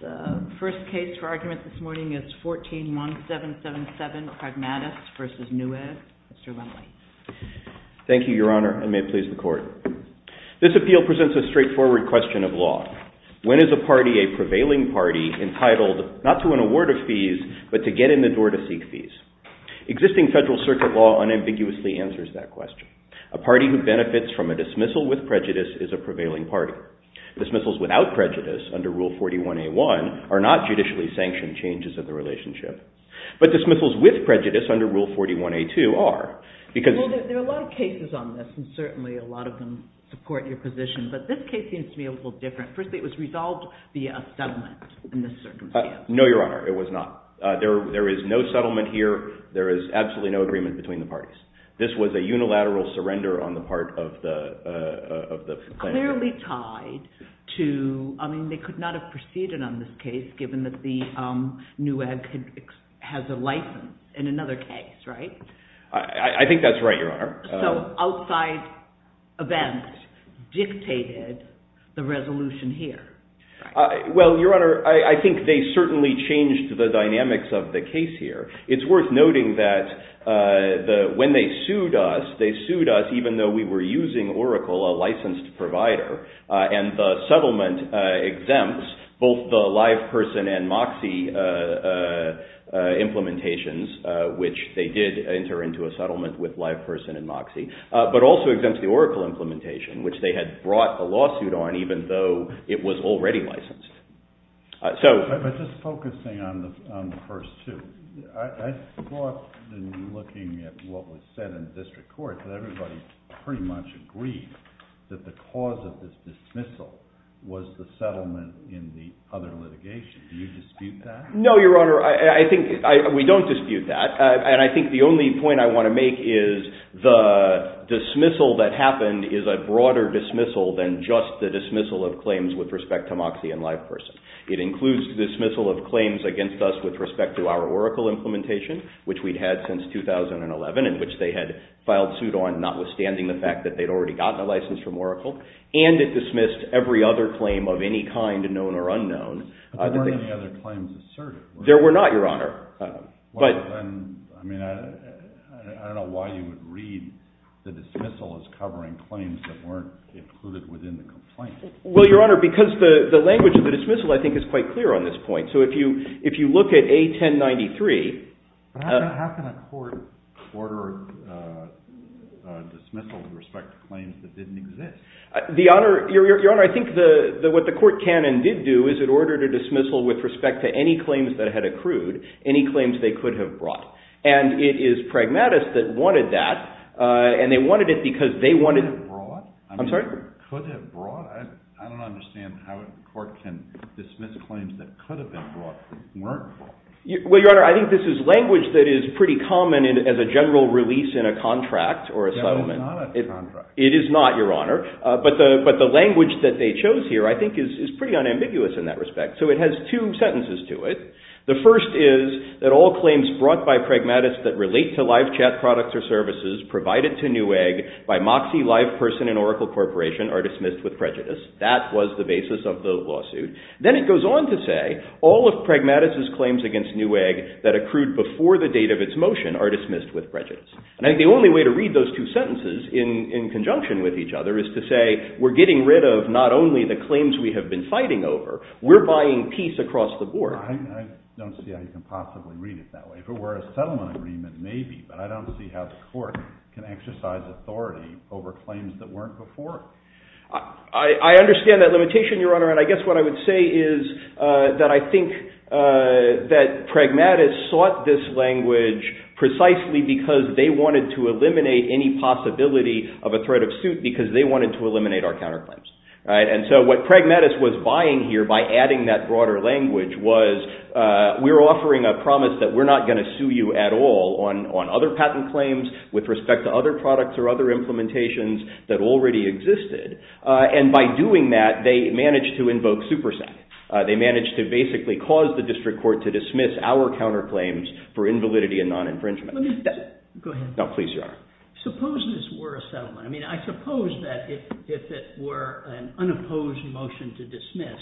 The first case for argument this morning is 14-1777 Pragmatus v. Newegg. Mr. Wendley. Thank you, Your Honor, and may it please the Court. This appeal presents a straightforward question of law. When is a party, a prevailing party, entitled not to an award of fees, but to get in the door to seek fees? Existing federal circuit law unambiguously answers that question. A party who benefits from a dismissal with prejudice is a prevailing party. Dismissals without prejudice under Rule 41A1 are not judicially sanctioned changes of the relationship. But dismissals with prejudice under Rule 41A2 are. There are a lot of cases on this, and certainly a lot of them support your position, but this case seems to be a little different. Firstly, it was resolved via a settlement in this circumstance. No, Your Honor, it was not. There is no settlement here. There is absolutely no agreement between the parties. This was a unilateral surrender on the part of the plaintiff. Clearly tied to – I mean, they could not have proceeded on this case given that the Newegg has a license in another case, right? I think that's right, Your Honor. So outside events dictated the resolution here. Well, Your Honor, I think they certainly changed the dynamics of the case here. It's worth noting that when they sued us, they sued us even though we were using Oracle, a licensed provider, and the settlement exempts both the live person and MOXIE implementations, which they did enter into a settlement with live person and MOXIE, but also exempts the Oracle implementation, which they had brought a lawsuit on even though it was already licensed. But just focusing on the first two, I thought in looking at what was said in district court that everybody pretty much agreed that the cause of this dismissal was the settlement in the other litigation. Do you dispute that? No, Your Honor. I think we don't dispute that. And I think the only point I want to make is the dismissal that happened is a broader dismissal than just the dismissal of claims with respect to MOXIE and live person. It includes the dismissal of claims against us with respect to our Oracle implementation, which we'd had since 2011 and which they had filed suit on, notwithstanding the fact that they'd already gotten a license from Oracle, and it dismissed every other claim of any kind, known or unknown. There weren't any other claims asserted, were there? There were not, Your Honor. I don't know why you would read the dismissal as covering claims that weren't included within the complaint. Well, Your Honor, because the language of the dismissal, I think, is quite clear on this point. So if you look at A1093… How can a court order a dismissal with respect to claims that didn't exist? Your Honor, I think what the court canon did do is it ordered a dismissal with respect to any claims that it had accrued, any claims they could have brought. And it is pragmatists that wanted that, and they wanted it because they wanted… Could have brought? I'm sorry? Could have brought? I don't understand how a court can dismiss claims that could have been brought, weren't brought. Well, Your Honor, I think this is language that is pretty common as a general release in a contract or a settlement. That was not a contract. It is not, Your Honor. But the language that they chose here, I think, is pretty unambiguous in that respect. So it has two sentences to it. The first is that all claims brought by pragmatists that relate to live chat products or services provided to Newegg by Moxie Live Person and Oracle Corporation are dismissed with prejudice. That was the basis of the lawsuit. Then it goes on to say, all of pragmatists' claims against Newegg that accrued before the date of its motion are dismissed with prejudice. And I think the only way to read those two sentences in conjunction with each other is to say, we're getting rid of not only the claims we have been fighting over, we're buying peace across the board. I don't see how you can possibly read it that way. If it were a settlement agreement, maybe. But I don't see how the court can exercise authority over claims that weren't before. I understand that limitation, Your Honor. And I guess what I would say is that I think that pragmatists sought this language precisely because they wanted to eliminate any possibility of a threat of suit because they wanted to eliminate our counterclaims. And so what pragmatists was buying here by adding that broader language was, we're offering a promise that we're not going to sue you at all on other patent claims with respect to other products or other implementations that already existed. And by doing that, they managed to invoke SuperSec. They managed to basically cause the district court to dismiss our counterclaims for invalidity and non-infringement. Go ahead. No, please, Your Honor. Suppose this were a settlement. I mean, I suppose that if it were an unopposed motion to dismiss,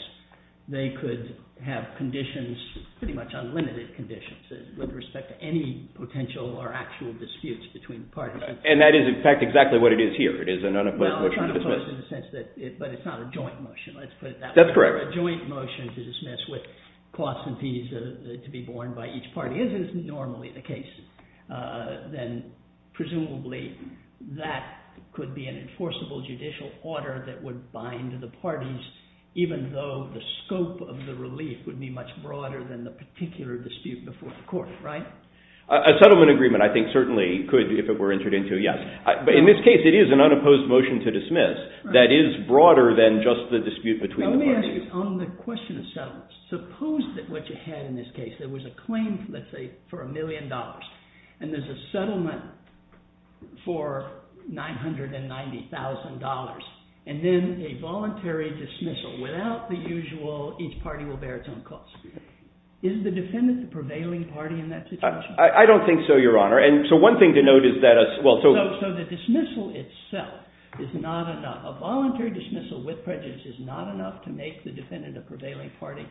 they could have conditions, pretty much unlimited conditions with respect to any potential or actual disputes between parties. And that is, in fact, exactly what it is here. It is an unopposed motion to dismiss. No, I'm trying to put it in the sense that it's not a joint motion. Let's put it that way. That's correct. If it were a joint motion to dismiss with costs and fees to be borne by each party, if that is normally the case, then presumably that could be an enforceable judicial order that would bind the parties, even though the scope of the relief would be much broader than the particular dispute before the court, right? A settlement agreement, I think, certainly could, if it were entered into, yes. But in this case, it is an unopposed motion to dismiss that is broader than just the dispute between the parties. Let me ask you, on the question of settlements, suppose that what you had in this case, there was a claim, let's say, for a million dollars, and there's a settlement for $990,000, and then a voluntary dismissal. Without the usual, each party will bear its own costs. Is the defendant the prevailing party in that situation? I don't think so, Your Honor. And so one thing to note is that a— So the dismissal itself is not enough. A voluntary dismissal with prejudice is not enough to make the defendant a prevailing party.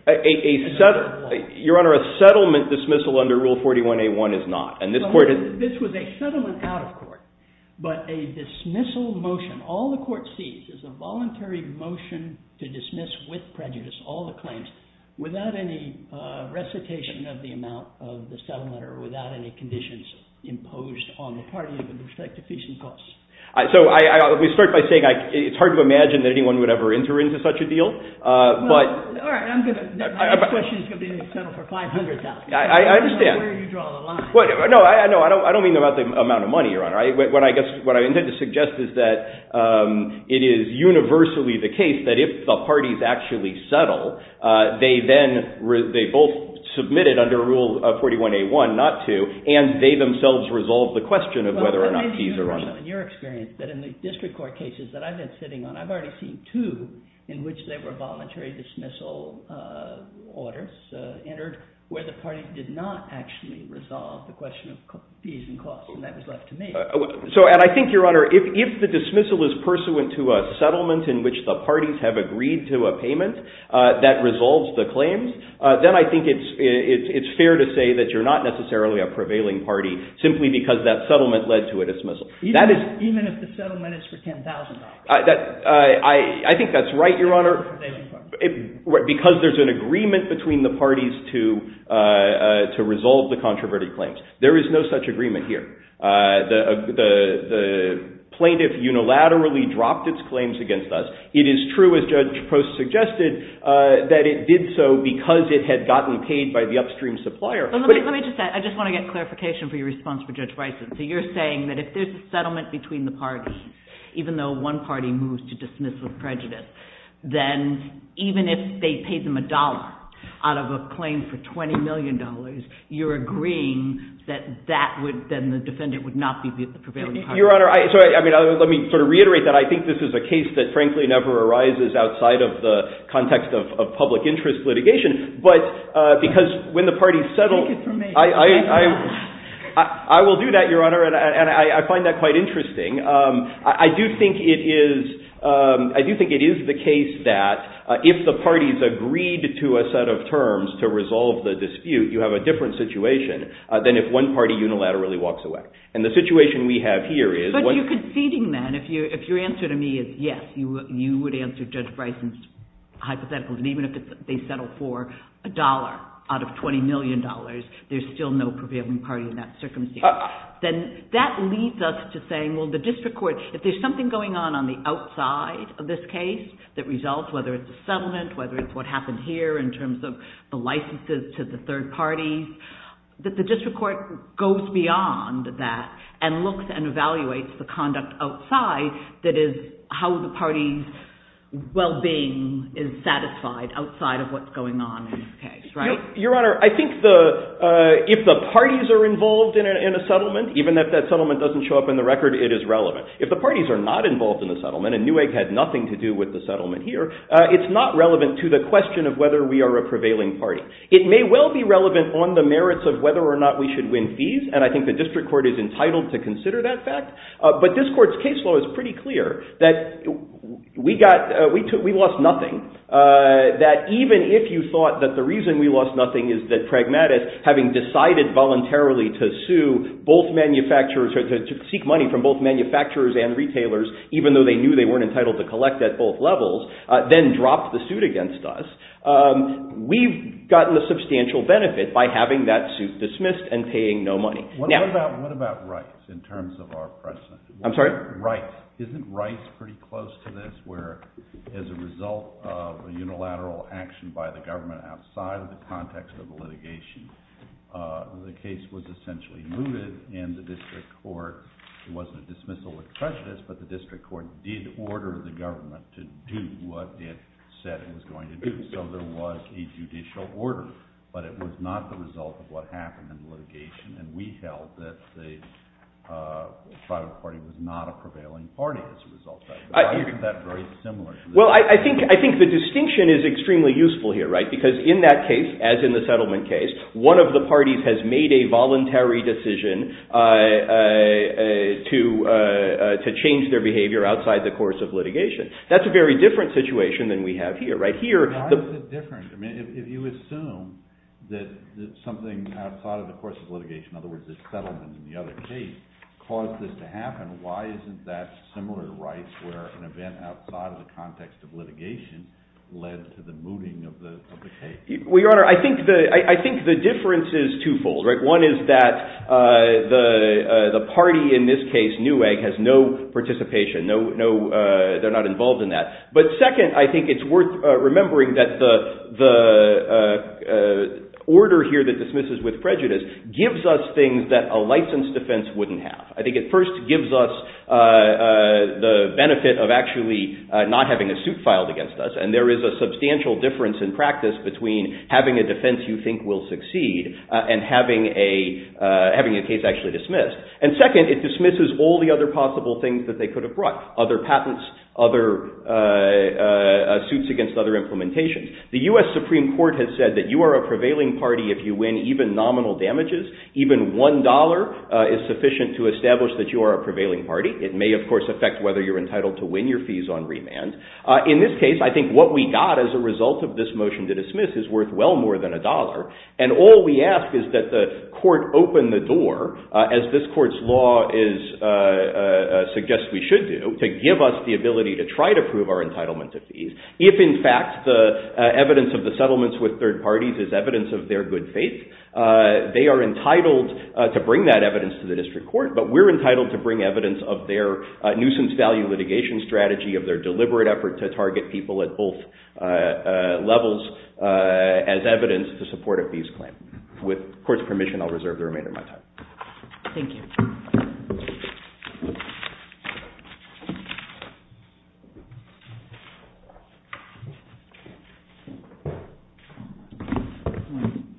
Your Honor, a settlement dismissal under Rule 41A1 is not. This was a settlement out of court, but a dismissal motion. All the court sees is a voluntary motion to dismiss with prejudice all the claims without any recitation of the amount of the settlement or without any conditions imposed on the party with respect to fees and costs. So we start by saying it's hard to imagine that anyone would ever enter into such a deal. All right, I'm good. My next question is going to be a settlement for $500,000. I understand. I don't know where you draw the line. No, I don't mean about the amount of money, Your Honor. What I intend to suggest is that it is universally the case that if the parties actually settle, they both submit it under Rule 41A1 not to, and they themselves resolve the question of whether or not fees are on them. In your experience, in the district court cases that I've been sitting on, I've already seen two in which there were voluntary dismissal orders entered where the parties did not actually resolve the question of fees and costs, and that was left to me. And I think, Your Honor, if the dismissal is pursuant to a settlement in which the parties have agreed to a payment that resolves the claims, then I think it's fair to say that you're not necessarily a prevailing party simply because that settlement led to a dismissal. Even if the settlement is for $10,000? I think that's right, Your Honor, because there's an agreement between the parties to resolve the controverted claims. There is no such agreement here. The plaintiff unilaterally dropped its claims against us. It is true, as Judge Post suggested, that it did so because it had gotten paid by the upstream supplier. Let me just say, I just want to get clarification for your response to Judge Bison. So you're saying that if there's a settlement between the parties, even though one party moves to dismiss the prejudice, then even if they paid them a dollar out of a claim for $20 million, you're agreeing that then the defendant would not be the prevailing party? Your Honor, let me sort of reiterate that I think this is a case that, frankly, never arises outside of the context of public interest litigation, but because when the parties settle... Take it from me. I will do that, Your Honor, and I find that quite interesting. I do think it is the case that if the parties agreed to a set of terms to resolve the dispute, you have a different situation than if one party unilaterally walks away. And the situation we have here is... But you're conceding then, if your answer to me is yes, you would answer Judge Bison's hypothetical, that even if they settle for a dollar out of $20 million, there's still no prevailing party in that circumstance. Then that leads us to saying, well, the district court, if there's something going on on the outside of this case that results, whether it's a settlement, whether it's what happened here in terms of the licenses to the third parties, that the district court goes beyond that and looks and evaluates the conduct outside that is how the party's well-being is satisfied outside of what's going on in this case, right? Your Honor, I think if the parties are involved in a settlement, even if that settlement doesn't show up in the record, it is relevant. If the parties are not involved in the settlement, and Newegg had nothing to do with the settlement here, it's not relevant to the question of whether we are a prevailing party. It may well be relevant on the merits of whether or not we should win fees, and I think the district court is entitled to consider that fact, but this court's case law is pretty clear that we lost nothing, that even if you thought that the reason we lost nothing is that Pragmatist, having decided voluntarily to sue both manufacturers, to seek money from both manufacturers and retailers, even though they knew they weren't entitled to collect at both levels, then dropped the suit against us, we've gotten a substantial benefit by having that suit dismissed and paying no money. What about rights in terms of our precedent? I'm sorry? Right. Isn't rights pretty close to this, where as a result of a unilateral action by the government outside the context of the litigation, the case was essentially mooted, and the district court wasn't a dismissal expressionist, but the district court did order the government to do what it said it was going to do. So there was a judicial order, but it was not the result of what happened in the litigation, and we held that the private party was not a prevailing party as a result. Why isn't that very similar? Well, I think the distinction is extremely useful here, because in that case, as in the settlement case, one of the parties has made a voluntary decision to change their behavior outside the course of litigation. That's a very different situation than we have here. How is it different? I mean, if you assume that something outside of the course of litigation, in other words, the settlement and the other case, caused this to happen, why isn't that similar to rights, where an event outside of the context of litigation led to the mooting of the case? Well, Your Honor, I think the difference is twofold. One is that the party in this case, NEWEG, has no participation. They're not involved in that. But second, I think it's worth remembering that the order here that dismisses with prejudice gives us things that a licensed defense wouldn't have. I think it first gives us the benefit of actually not having a suit filed against us, and there is a substantial difference in practice between having a defense you think will succeed and having a case actually dismissed. And second, it dismisses all the other possible things that they could have brought, other patents, other suits against other implementations. The U.S. Supreme Court has said that you are a prevailing party if you win even nominal damages. Even one dollar is sufficient to establish that you are a prevailing party. It may, of course, affect whether you're entitled to win your fees on remand. In this case, I think what we got as a result of this motion to dismiss is worth well more than a dollar, and all we ask is that the court open the door, as this court's law suggests we should do, to give us the ability to try to prove our entitlement to fees. If, in fact, the evidence of the settlements with third parties is evidence of their good faith, they are entitled to bring that evidence to the district court, but we're entitled to bring evidence of their nuisance value litigation strategy, of their deliberate effort to target people at both levels as evidence to support a fees claim. With court's permission, I'll reserve the remainder of my time. Thank you. Thank you.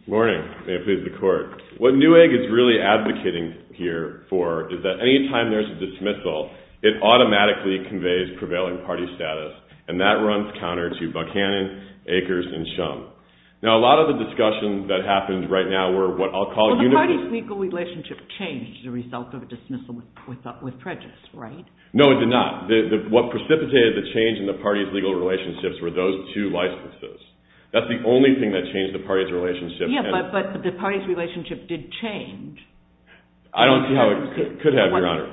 Good morning. May it please the court. What Newegg is really advocating here for is that any time there's a dismissal, it automatically conveys prevailing party status, and that runs counter to Buchanan, Akers, and Shum. Now, a lot of the discussions that happened right now were what I'll call... Well, the parties' legal relationship changed as a result of a dismissal with prejudice, right? No, it did not. What precipitated the change in the parties' legal relationships were those two licenses. That's the only thing that changed the parties' relationship. Yeah, but the parties' relationship did change. I don't see how it could have, Your Honor.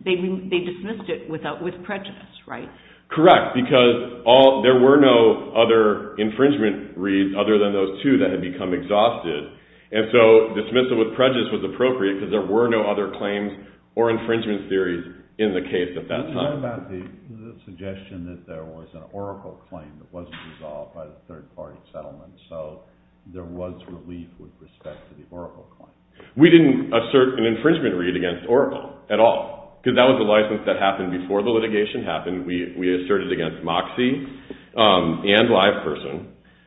They dismissed it with prejudice, right? Correct, because there were no other infringement reads other than those two that had become exhausted, and so dismissal with prejudice was appropriate because there were no other claims or infringement theories in the case at that time. What about the suggestion that there was an Oracle claim that wasn't resolved by the third-party settlement, so there was relief with respect to the Oracle claim? We didn't assert an infringement read against Oracle at all, because that was a license that happened before the litigation happened. We asserted it against Moxie and LivePerson.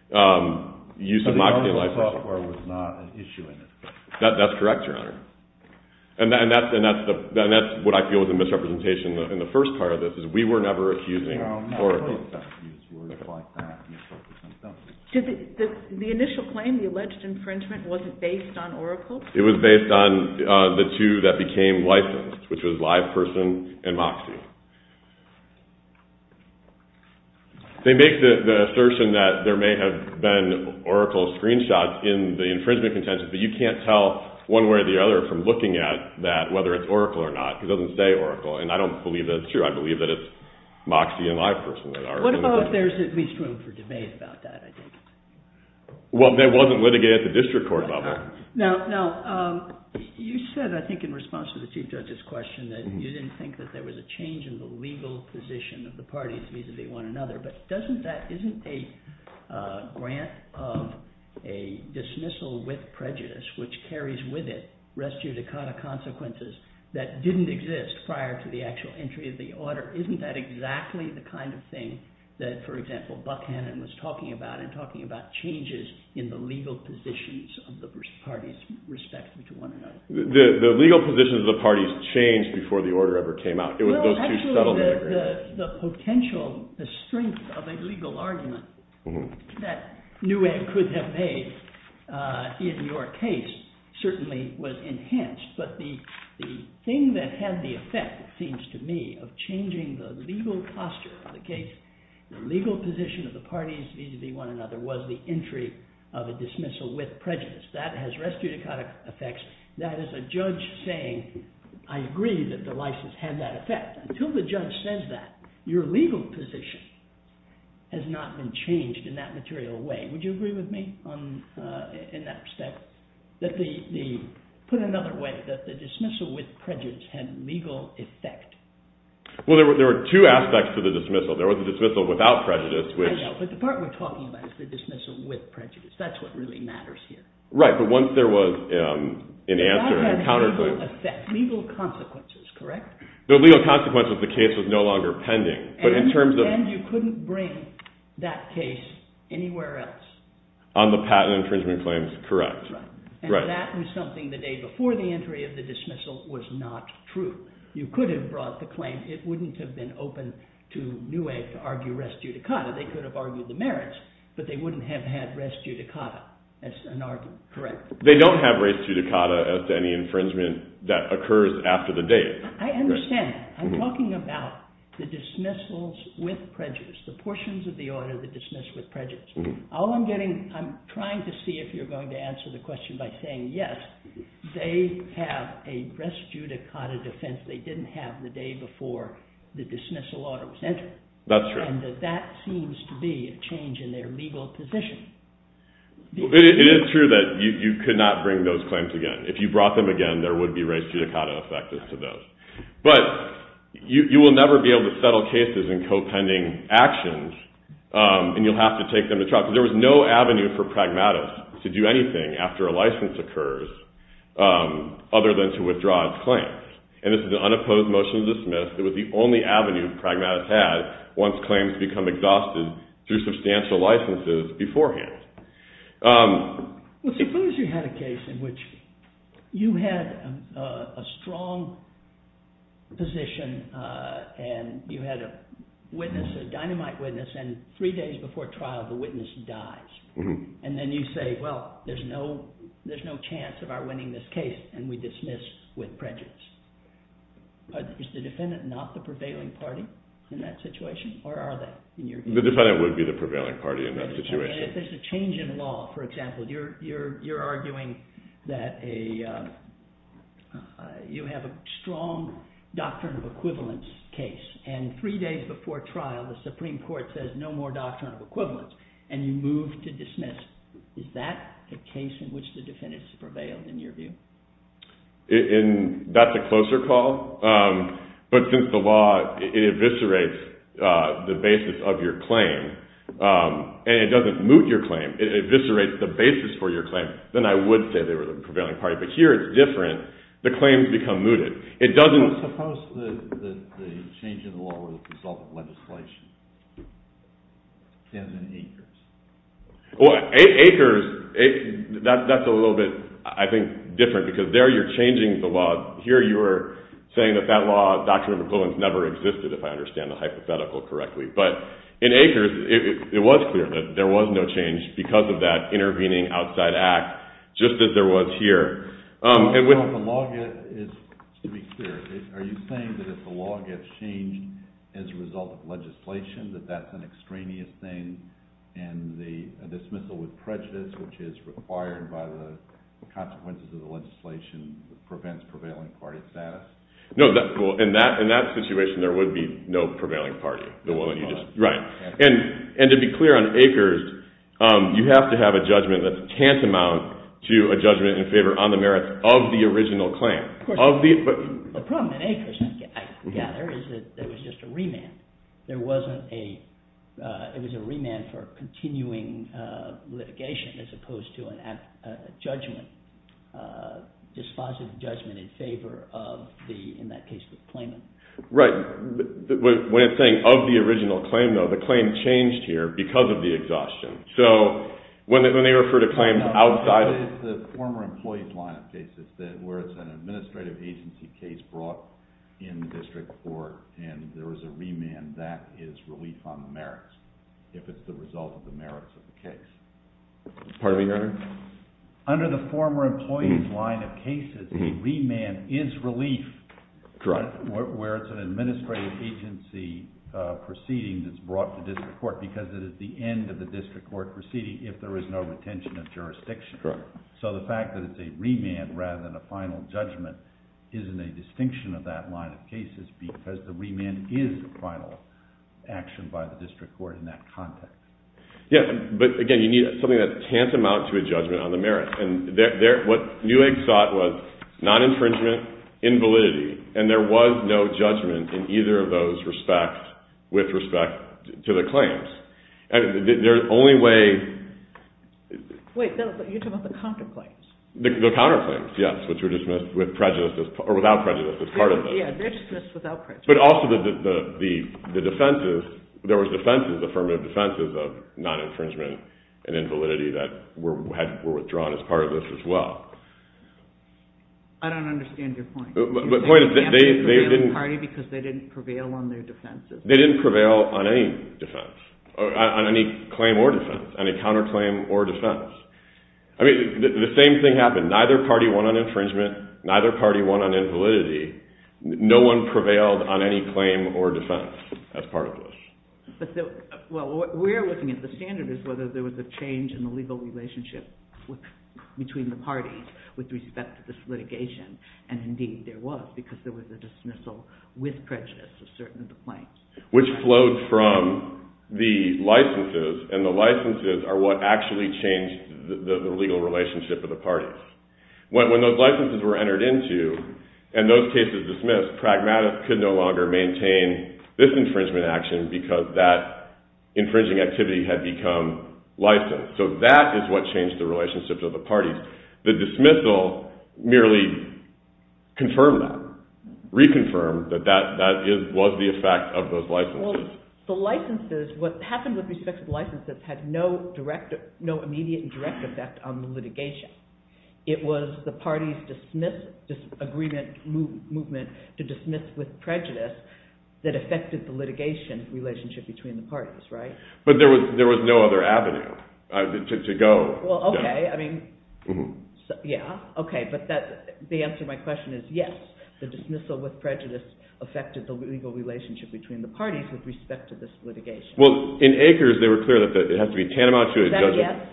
The Oracle software was not an issue in it. That's correct, Your Honor. And that's what I feel was a misrepresentation in the first part of this, is we were never accusing Oracle. No, I'm not going to accuse you of words like that. The initial claim, the alleged infringement, was it based on Oracle? It was based on the two that became licensed, which was LivePerson and Moxie. They make the assertion that there may have been Oracle screenshots in the infringement content, but you can't tell one way or the other from looking at that whether it's Oracle or not. It doesn't say Oracle, and I don't believe that's true. I believe that it's Moxie and LivePerson. What about if there's at least room for debate about that? Well, that wasn't litigated at the district court level. Now, you said, I think in response to the Chief Judge's question, that you didn't think that there was a change in the legal position of the parties vis-à-vis one another, but isn't that a grant of a dismissal with prejudice, which carries with it res judicata consequences that didn't exist prior to the actual entry of the order? Isn't that exactly the kind of thing that, for example, Buckhannon was talking about in talking about changes in the legal positions of the parties respectively to one another? The legal positions of the parties changed before the order ever came out. It was those two settled in agreement. The potential, the strength of a legal argument that Newegg could have made in your case certainly was enhanced. But the thing that had the effect, it seems to me, of changing the legal posture of the case, the legal position of the parties vis-à-vis one another, was the entry of a dismissal with prejudice. That has res judicata effects. That is a judge saying, I agree that the license had that effect. Until the judge says that, your legal position has not been changed in that material way. Would you agree with me in that respect? Put another way, that the dismissal with prejudice had legal effect. Well, there were two aspects to the dismissal. There was the dismissal without prejudice, which... I know, but the part we're talking about is the dismissal with prejudice. That's what really matters here. Right, but once there was an answer... It had legal effect, legal consequences, correct? The legal consequences of the case was no longer pending, but in terms of... And you couldn't bring that case anywhere else? On the patent infringement claims, correct. Right. And that was something the day before the entry of the dismissal was not true. You could have brought the claim. It wouldn't have been open to Newegg to argue res judicata. They could have argued the merits, but they wouldn't have had res judicata as an argument. Correct. They don't have res judicata as to any infringement that occurs after the date. I understand. I'm talking about the dismissals with prejudice, the portions of the order that dismiss with prejudice. All I'm getting... I'm trying to see if you're going to answer the question by saying yes, they have a res judicata defense they didn't have the day before the dismissal order was entered. That's true. And that that seems to be a change in their legal position. It is true that you could not bring those claims again. If you brought them again, there would be res judicata effective to those. But you will never be able to settle cases in co-pending actions, and you'll have to take them to trial. There was no avenue for pragmatists to do anything after a license occurs other than to withdraw its claims. And this is an unopposed motion to dismiss. It was the only avenue pragmatists had once claims become exhausted through substantial licenses beforehand. Well, suppose you had a case in which you had a strong position and you had a witness, a dynamite witness, and three days before trial, the witness dies. And then you say, well, there's no chance of our winning this case, and we dismiss with prejudice. Is the defendant not the prevailing party in that situation, or are they? The defendant would be the prevailing party in that situation. If there's a change in law, for example, you're arguing that you have a strong doctrine of equivalence case, and three days before trial, the Supreme Court says no more doctrine of equivalence, and you move to dismiss. Is that the case in which the defendants prevailed, in your view? That's a closer call. But since the law, it eviscerates the basis of your claim. And it doesn't moot your claim. It eviscerates the basis for your claim. Then I would say they were the prevailing party. But here it's different. The claims become mooted. Suppose the change in the law was a result of legislation. It stands in acres. Well, acres, that's a little bit, I think, different, because there you're changing the law. Here you are saying that that law, doctrine of equivalence, never existed, if I understand the hypothetical correctly. But in acres, it was clear that there was no change because of that intervening outside act, just as there was here. The law is, to be clear, are you saying that if the law gets changed as a result of legislation, that that's an extraneous thing, and the dismissal with prejudice, which is required by the consequences of the legislation, prevents prevailing party status? No, in that situation, there would be no prevailing party. Right. And to be clear on acres, you have to have a judgment that's tantamount to a judgment in favor on the merits of the original claim. Of course. The problem in acres, I gather, is that there was just a remand. There wasn't a, it was a remand for continuing litigation as opposed to a judgment, dispositive judgment in favor of the, in that case, the claimant. Right. When it's saying of the original claim, though, the claim changed here because of the exhaustion. So, when they refer to claims outside of the former employee's line of cases, where it's an administrative agency case brought in district court, and there was a remand, that is relief on the merits, if it's the result of the merits of the case. Pardon me, Your Honor? Under the former employee's line of cases, a remand is relief. Correct. Where it's an administrative agency proceeding that's brought to district court because it is the end of the district court proceeding if there is no retention of jurisdiction. Correct. So, the fact that it's a remand rather than a final judgment isn't a distinction of that line of cases because the remand is the final action by the district court in that context. Yes. But, again, you need something that's tantamount to a judgment on the merits. And what Newegg thought was non-infringement, invalidity, and there was no judgment in either of those respects with respect to the claims. There's only way... Wait, you're talking about the counterclaims. The counterclaims, yes, which were dismissed with prejudice, or without prejudice as part of it. Yeah, they're dismissed without prejudice. But also the defenses, there were defenses, affirmative defenses of non-infringement and invalidity that were withdrawn as part of this as well. I don't understand your point. The point is they didn't... Because they didn't prevail on their defenses. They didn't prevail on any defense, on any claim or defense, any counterclaim or defense. I mean, the same thing happened. Neither party won on infringement, neither party won on invalidity. No one prevailed on any claim or defense as part of this. Well, we're looking at the standard as whether there was a change in the legal relationship between the parties with respect to this litigation, and indeed there was, because there was a dismissal with prejudice of certain of the claims. Which flowed from the licenses, and the licenses are what actually changed the legal relationship of the parties. When those licenses were entered into, and those cases dismissed, pragmatists could no longer maintain this infringement action because that infringing activity had become licensed. So that is what changed the relationship to the parties. The dismissal merely confirmed that, reconfirmed that that was the effect of those licenses. Well, the licenses, what happened with respect to the licenses had no direct, no immediate and direct effect on the litigation. It was the party's dismiss, agreement movement to dismiss with prejudice that affected the litigation relationship between the parties, right? But there was no other avenue to go. Well, okay, I mean, yeah, okay, but the answer to my question is yes, the dismissal with prejudice affected the legal relationship between the parties with respect to this litigation. Well, in Acres they were clear that it has to be tantamount to a judgment. Is that a yes?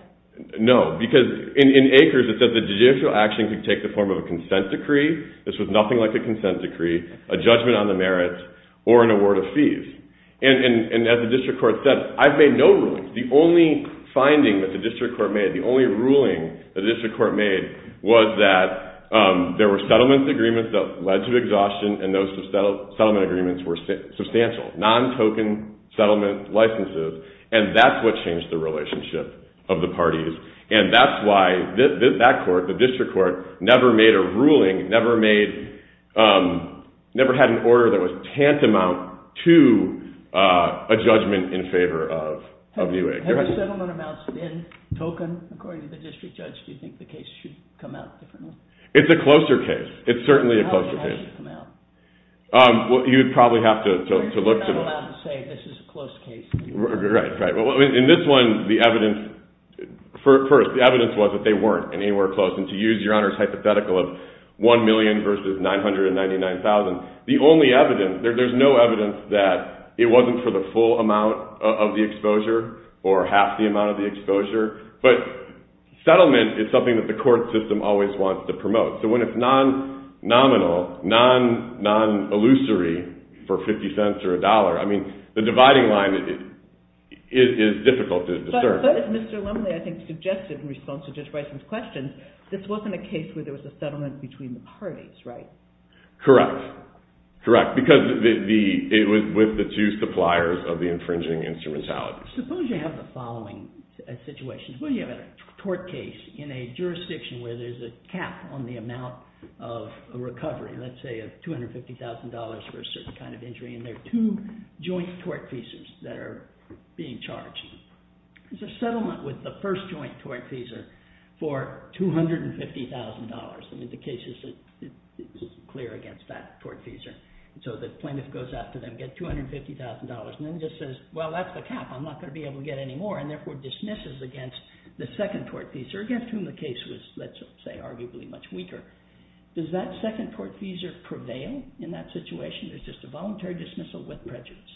No, because in Acres it said the judicial action could take the form of a consent decree. This was nothing like a consent decree, a judgment on the merits, or an award of fees. And as the district court said, I've made no rulings. The only finding that the district court made, the only ruling the district court made was that there were settlement agreements that led to exhaustion and those settlement agreements were substantial, non-token settlement licenses, and that's what changed the relationship of the parties. And that's why that court, the district court, never made a ruling, never had an obligation to do a judgment in favor of Newegg. Have the settlement amounts been token according to the district judge? Do you think the case should come out differently? It's a closer case. It's certainly a closer case. How would it have to come out? Well, you'd probably have to look to know. Well, you're just not allowed to say this is a close case. Right, right. In this one, the evidence, first, the evidence was that they weren't anywhere close. And to use Your Honor's hypothetical of 1 million versus 999,000, the only evidence, there's no evidence that it wasn't for the full amount of the exposure or half the amount of the exposure. But settlement is something that the court system always wants to promote. So when it's non-nominal, non-illusory for 50 cents or a dollar, I mean, the dividing line is difficult to discern. But as Mr. Lumley, I think, suggested in response to Judge Bison's questions, this wasn't a case where there was a settlement between the parties, right? Correct. Correct. Because it was with the two suppliers of the infringing instrumentality. Suppose you have the following situation. Suppose you have a tort case in a jurisdiction where there's a cap on the amount of recovery, let's say of $250,000 for a certain kind of injury, and there are two joint tort feasors that are being charged. There's a settlement with the first joint tort feasor for $250,000. I mean, the case is clear against that tort feasor. So the plaintiff goes after them, gets $250,000, and then just says, well, that's the cap, I'm not going to be able to get any more, and therefore dismisses against the second tort feasor, against whom the case was, let's say, arguably much weaker. Does that second tort feasor prevail in that situation? It's just a voluntary dismissal with prejudice.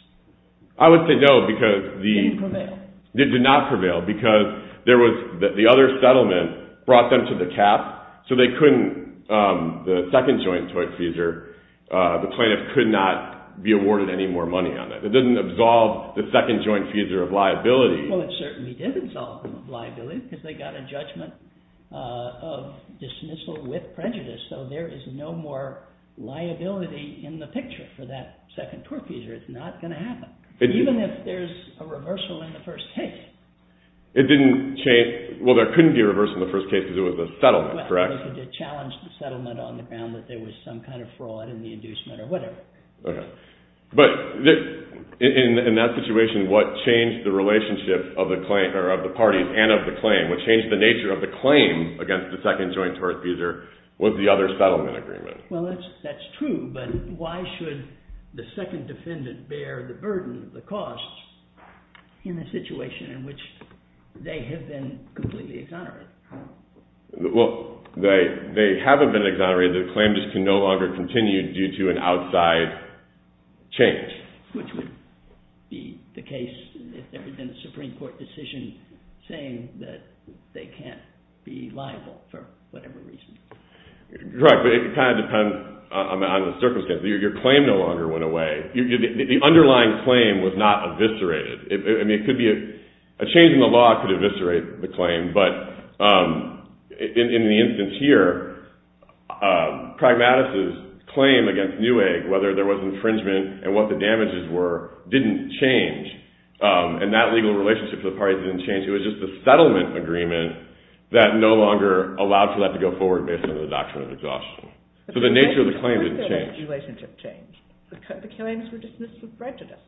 I would say no, because the... It didn't prevail. It did not prevail, because the other settlement brought them to the cap, so they couldn't, the second joint tort feasor, the plaintiff could not be awarded any more money on that. It didn't absolve the second joint feasor of liability. Well, it certainly did absolve them of liability, because they got a judgment of dismissal with prejudice. So there is no more liability in the picture for that second tort feasor. It's not going to happen, even if there's a reversal in the first case. It didn't chase... Well, there couldn't be a reversal in the first case, because it was a settlement, correct? Well, they could have challenged the settlement on the ground that there was some kind of fraud in the inducement or whatever. Okay. But in that situation, what changed the relationship of the parties and of the claim, what changed the nature of the claim against the second joint tort feasor was the other settlement agreement. Well, that's true, but why should the second defendant bear the burden, the costs, in a situation in which they have been completely exonerated? Well, they haven't been exonerated. The claim just can no longer continue due to an outside change. Which would be the case if there had been a Supreme Court decision saying that they can't be liable for whatever reason. Right. But it kind of depends on the circumstances. Your claim no longer went away. The underlying claim was not eviscerated. I mean, a change in the law could eviscerate the claim, but in the case of Pragmatus's claim against Newegg, whether there was infringement and what the damages were, didn't change. And that legal relationship for the parties didn't change. It was just the settlement agreement that no longer allowed for that to go forward based on the doctrine of exhaustion. So the nature of the claim didn't change. The claims were dismissed with prejudice.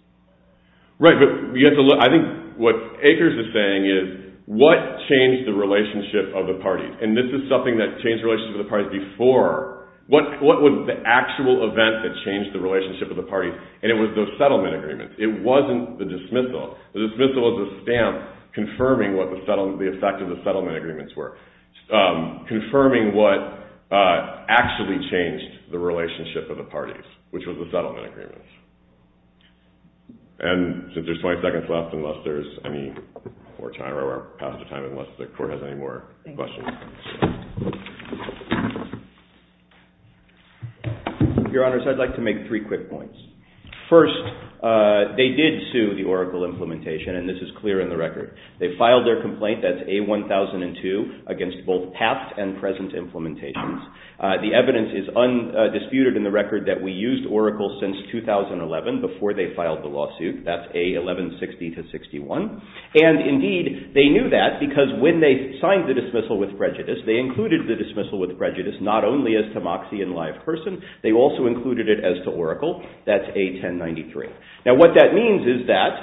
Right. But I think what Akers is saying is what changed the relationship of the parties? And this is something that changed the relationship of the parties before. What was the actual event that changed the relationship of the parties? And it was those settlement agreements. It wasn't the dismissal. The dismissal is a stamp confirming what the effect of the settlement agreements were, confirming what actually changed the relationship of the parties, which was the settlement agreements. And since there's 20 seconds left, unless there's any more time or we're past the time, unless the Your Honors, I'd like to make three quick points. First, they did sue the Oracle implementation, and this is clear in the record. They filed their complaint, that's A-1002, against both past and present implementations. The evidence is undisputed in the record that we used Oracle since 2011 before they filed the lawsuit, that's A-1160-61. And indeed, they knew that because when they signed the dismissal with prejudice, they included the dismissal with prejudice not only as to Moxie in live person, they also included it as to Oracle, that's A-1093. Now, what that means is that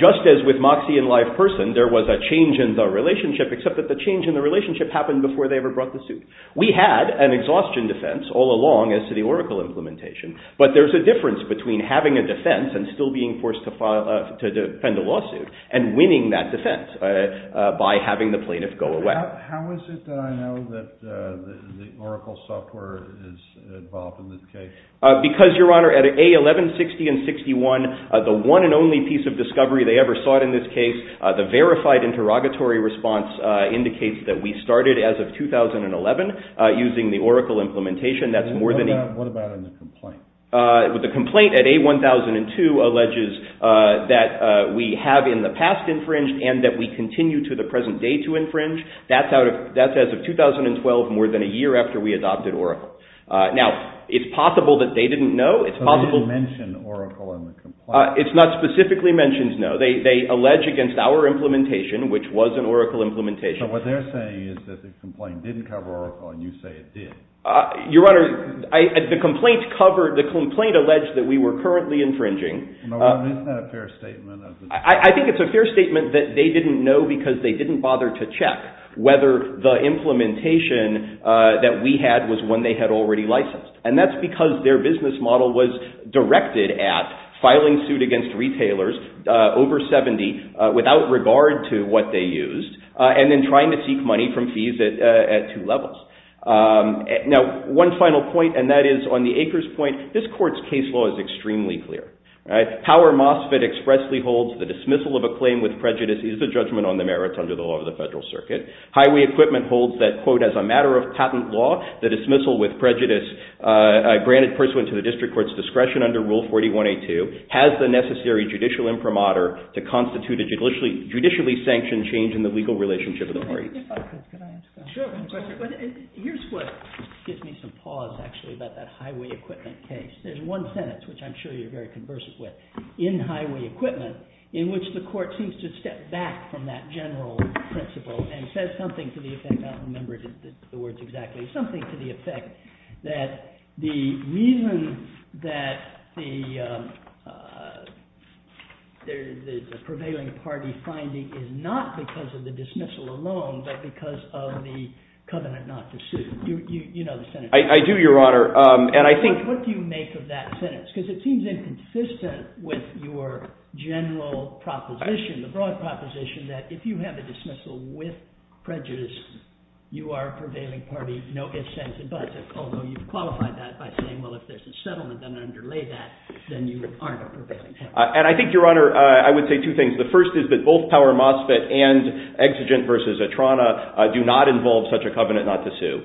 just as with Moxie in live person, there was a change in the relationship, except that the change in the relationship happened before they ever brought the suit. We had an exhaustion defense all along as to the Oracle implementation, but there's a difference between having a defense and still being forced to defend a lawsuit, and winning that defense by having the plaintiff go away. How is it that I know that the Oracle software is involved in this case? Because, Your Honor, at A-1160 and 61, the one and only piece of discovery they ever sought in this case, the verified interrogatory response indicates that we started as of 2011 using the Oracle implementation. What about in the complaint? The complaint at A-1002 alleges that we have in the past infringed and that we continue to the present day to infringe. That's as of 2012, more than a year after we adopted Oracle. Now, it's possible that they didn't know. So they didn't mention Oracle in the complaint? It's not specifically mentioned, no. They allege against our implementation, which was an Oracle implementation. So what they're saying is that the complaint didn't cover Oracle and you say it did? Your Honor, the complaint alleged that we were currently infringing. Isn't that a fair statement? I think it's a fair statement that they didn't know because they didn't bother to check whether the implementation that we had was one they had already licensed. And that's because their business model was directed at filing suit against retailers over 70 without regard to what they used and then trying to seek money from fees at two levels. Now, one final point, and that is on the acres point, this court's case law is extremely clear. Power MOSFET expressly holds the dismissal of a claim with prejudice is a judgment on the merits under the law of the Federal Circuit. Highway equipment holds that, quote, as a matter of patent law, the dismissal with prejudice granted pursuant to the district court's discretion under Rule 41A2 has the necessary judicial imprimatur to constitute a judicially sanctioned change in the legal relationship of the parties. Can I ask a question? Sure. Here's what gives me some pause actually about that highway equipment case. There's one sentence, which I'm sure you're very conversant with, in highway equipment in which the court seems to step back from that general principle and says something to the effect, I don't remember the words exactly, something to the effect that the reason that the prevailing party finding is not because of the dismissal alone, but because of the covenant not to sue. You know the sentence. I do, Your Honor, and I think Because it seems inconsistent with your general proposition, the broad consensus is that if you have a dismissal with prejudice, you are a prevailing party. You've qualified that by saying if there's a settlement, then underlay that, then you aren't a prevailing party. And I think, Your Honor, I would say two things. The first is that both Power Mosfet and Exigent v. Atrana do not involve such a covenant not to sue.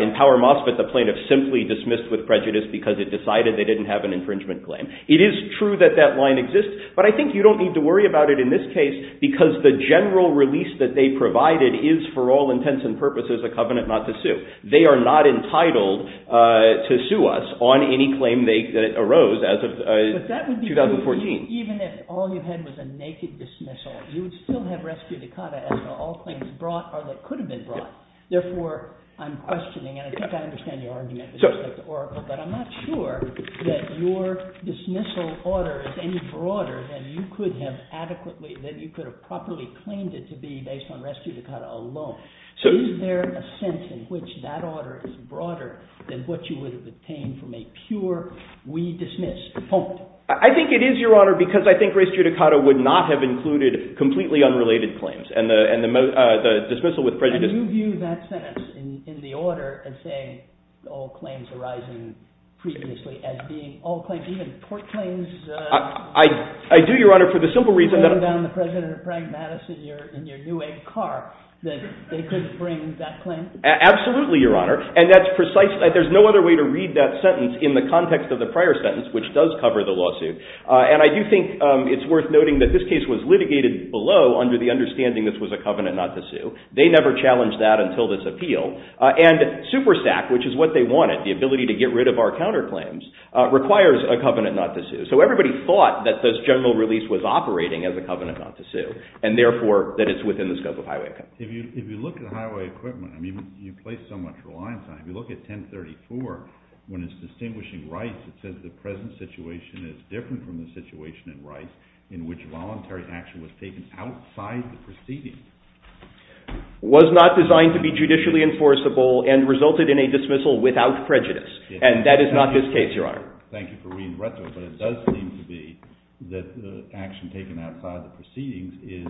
In Power Mosfet, the plaintiff simply dismissed with prejudice because it decided they didn't have an infringement claim. It is true that that line exists, but I think you don't need to worry about it in this case because the general release that they provided is for all intents and purposes a covenant not to sue. They are not entitled to sue us on any claim that arose as of 2014. But that would be true even if all you had was a naked dismissal. You would still have rescue to cotta after all claims brought or that could have been brought. Therefore, I'm questioning, and I think I understand your argument with respect to Oracle, but I'm not sure that your dismissal order is any broader than you could have adequately, that you could have properly claimed it to be based on rescue to cotta alone. Is there a sense in which that order is broader than what you would have obtained from a pure we dismiss? I think it is, Your Honor, because I think rescue to cotta would not have included completely unrelated claims and the dismissal with prejudice. And you view that sentence in the order as saying all claims arising previously as being all claims, even court claims. I do, Your Honor, for the simple reason that I'm... You're laying down the President of Prague, Madison, in your new egg car that they couldn't bring that claim. Absolutely, Your Honor. And that's precise. There's no other way to read that sentence in the context of the prior sentence, which does cover the lawsuit. And I do think it's worth noting that this case was litigated below under the understanding this was a covenant not to sue. They never challenged that until this appeal. And SuperSAC, which is what they wanted, the ability to get rid of our counterclaims, requires a covenant not to sue. So everybody thought that this general release was operating as a covenant not to sue, and therefore that it's within the scope of highway equipment. If you look at highway equipment, I mean, you place so much reliance on it. If you look at 1034, when it's distinguishing rights, it says the present situation is different from the situation in rights in which voluntary action was taken outside the proceedings. Was not designed to be judicially enforceable and resulted in a dismissal without prejudice. And that is not this case, Your Honor. Thank you for reading retro, but it does seem to be that action taken outside the proceedings is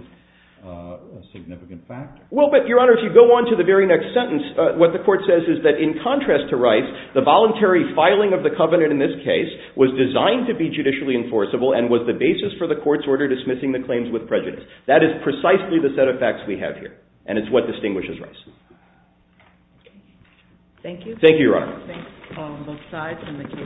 a significant factor. Well, but, Your Honor, if you go on to the very next sentence, what the court says is that in contrast to rights, the voluntary filing of the covenant in this case was designed to be judicially enforceable and was the basis for the court's order dismissing the claims with prejudice. That is precisely the set of facts we have here. And it's what distinguishes rights. Thank you. Thank you, Your Honor. Thanks, Paul, on both sides and the case.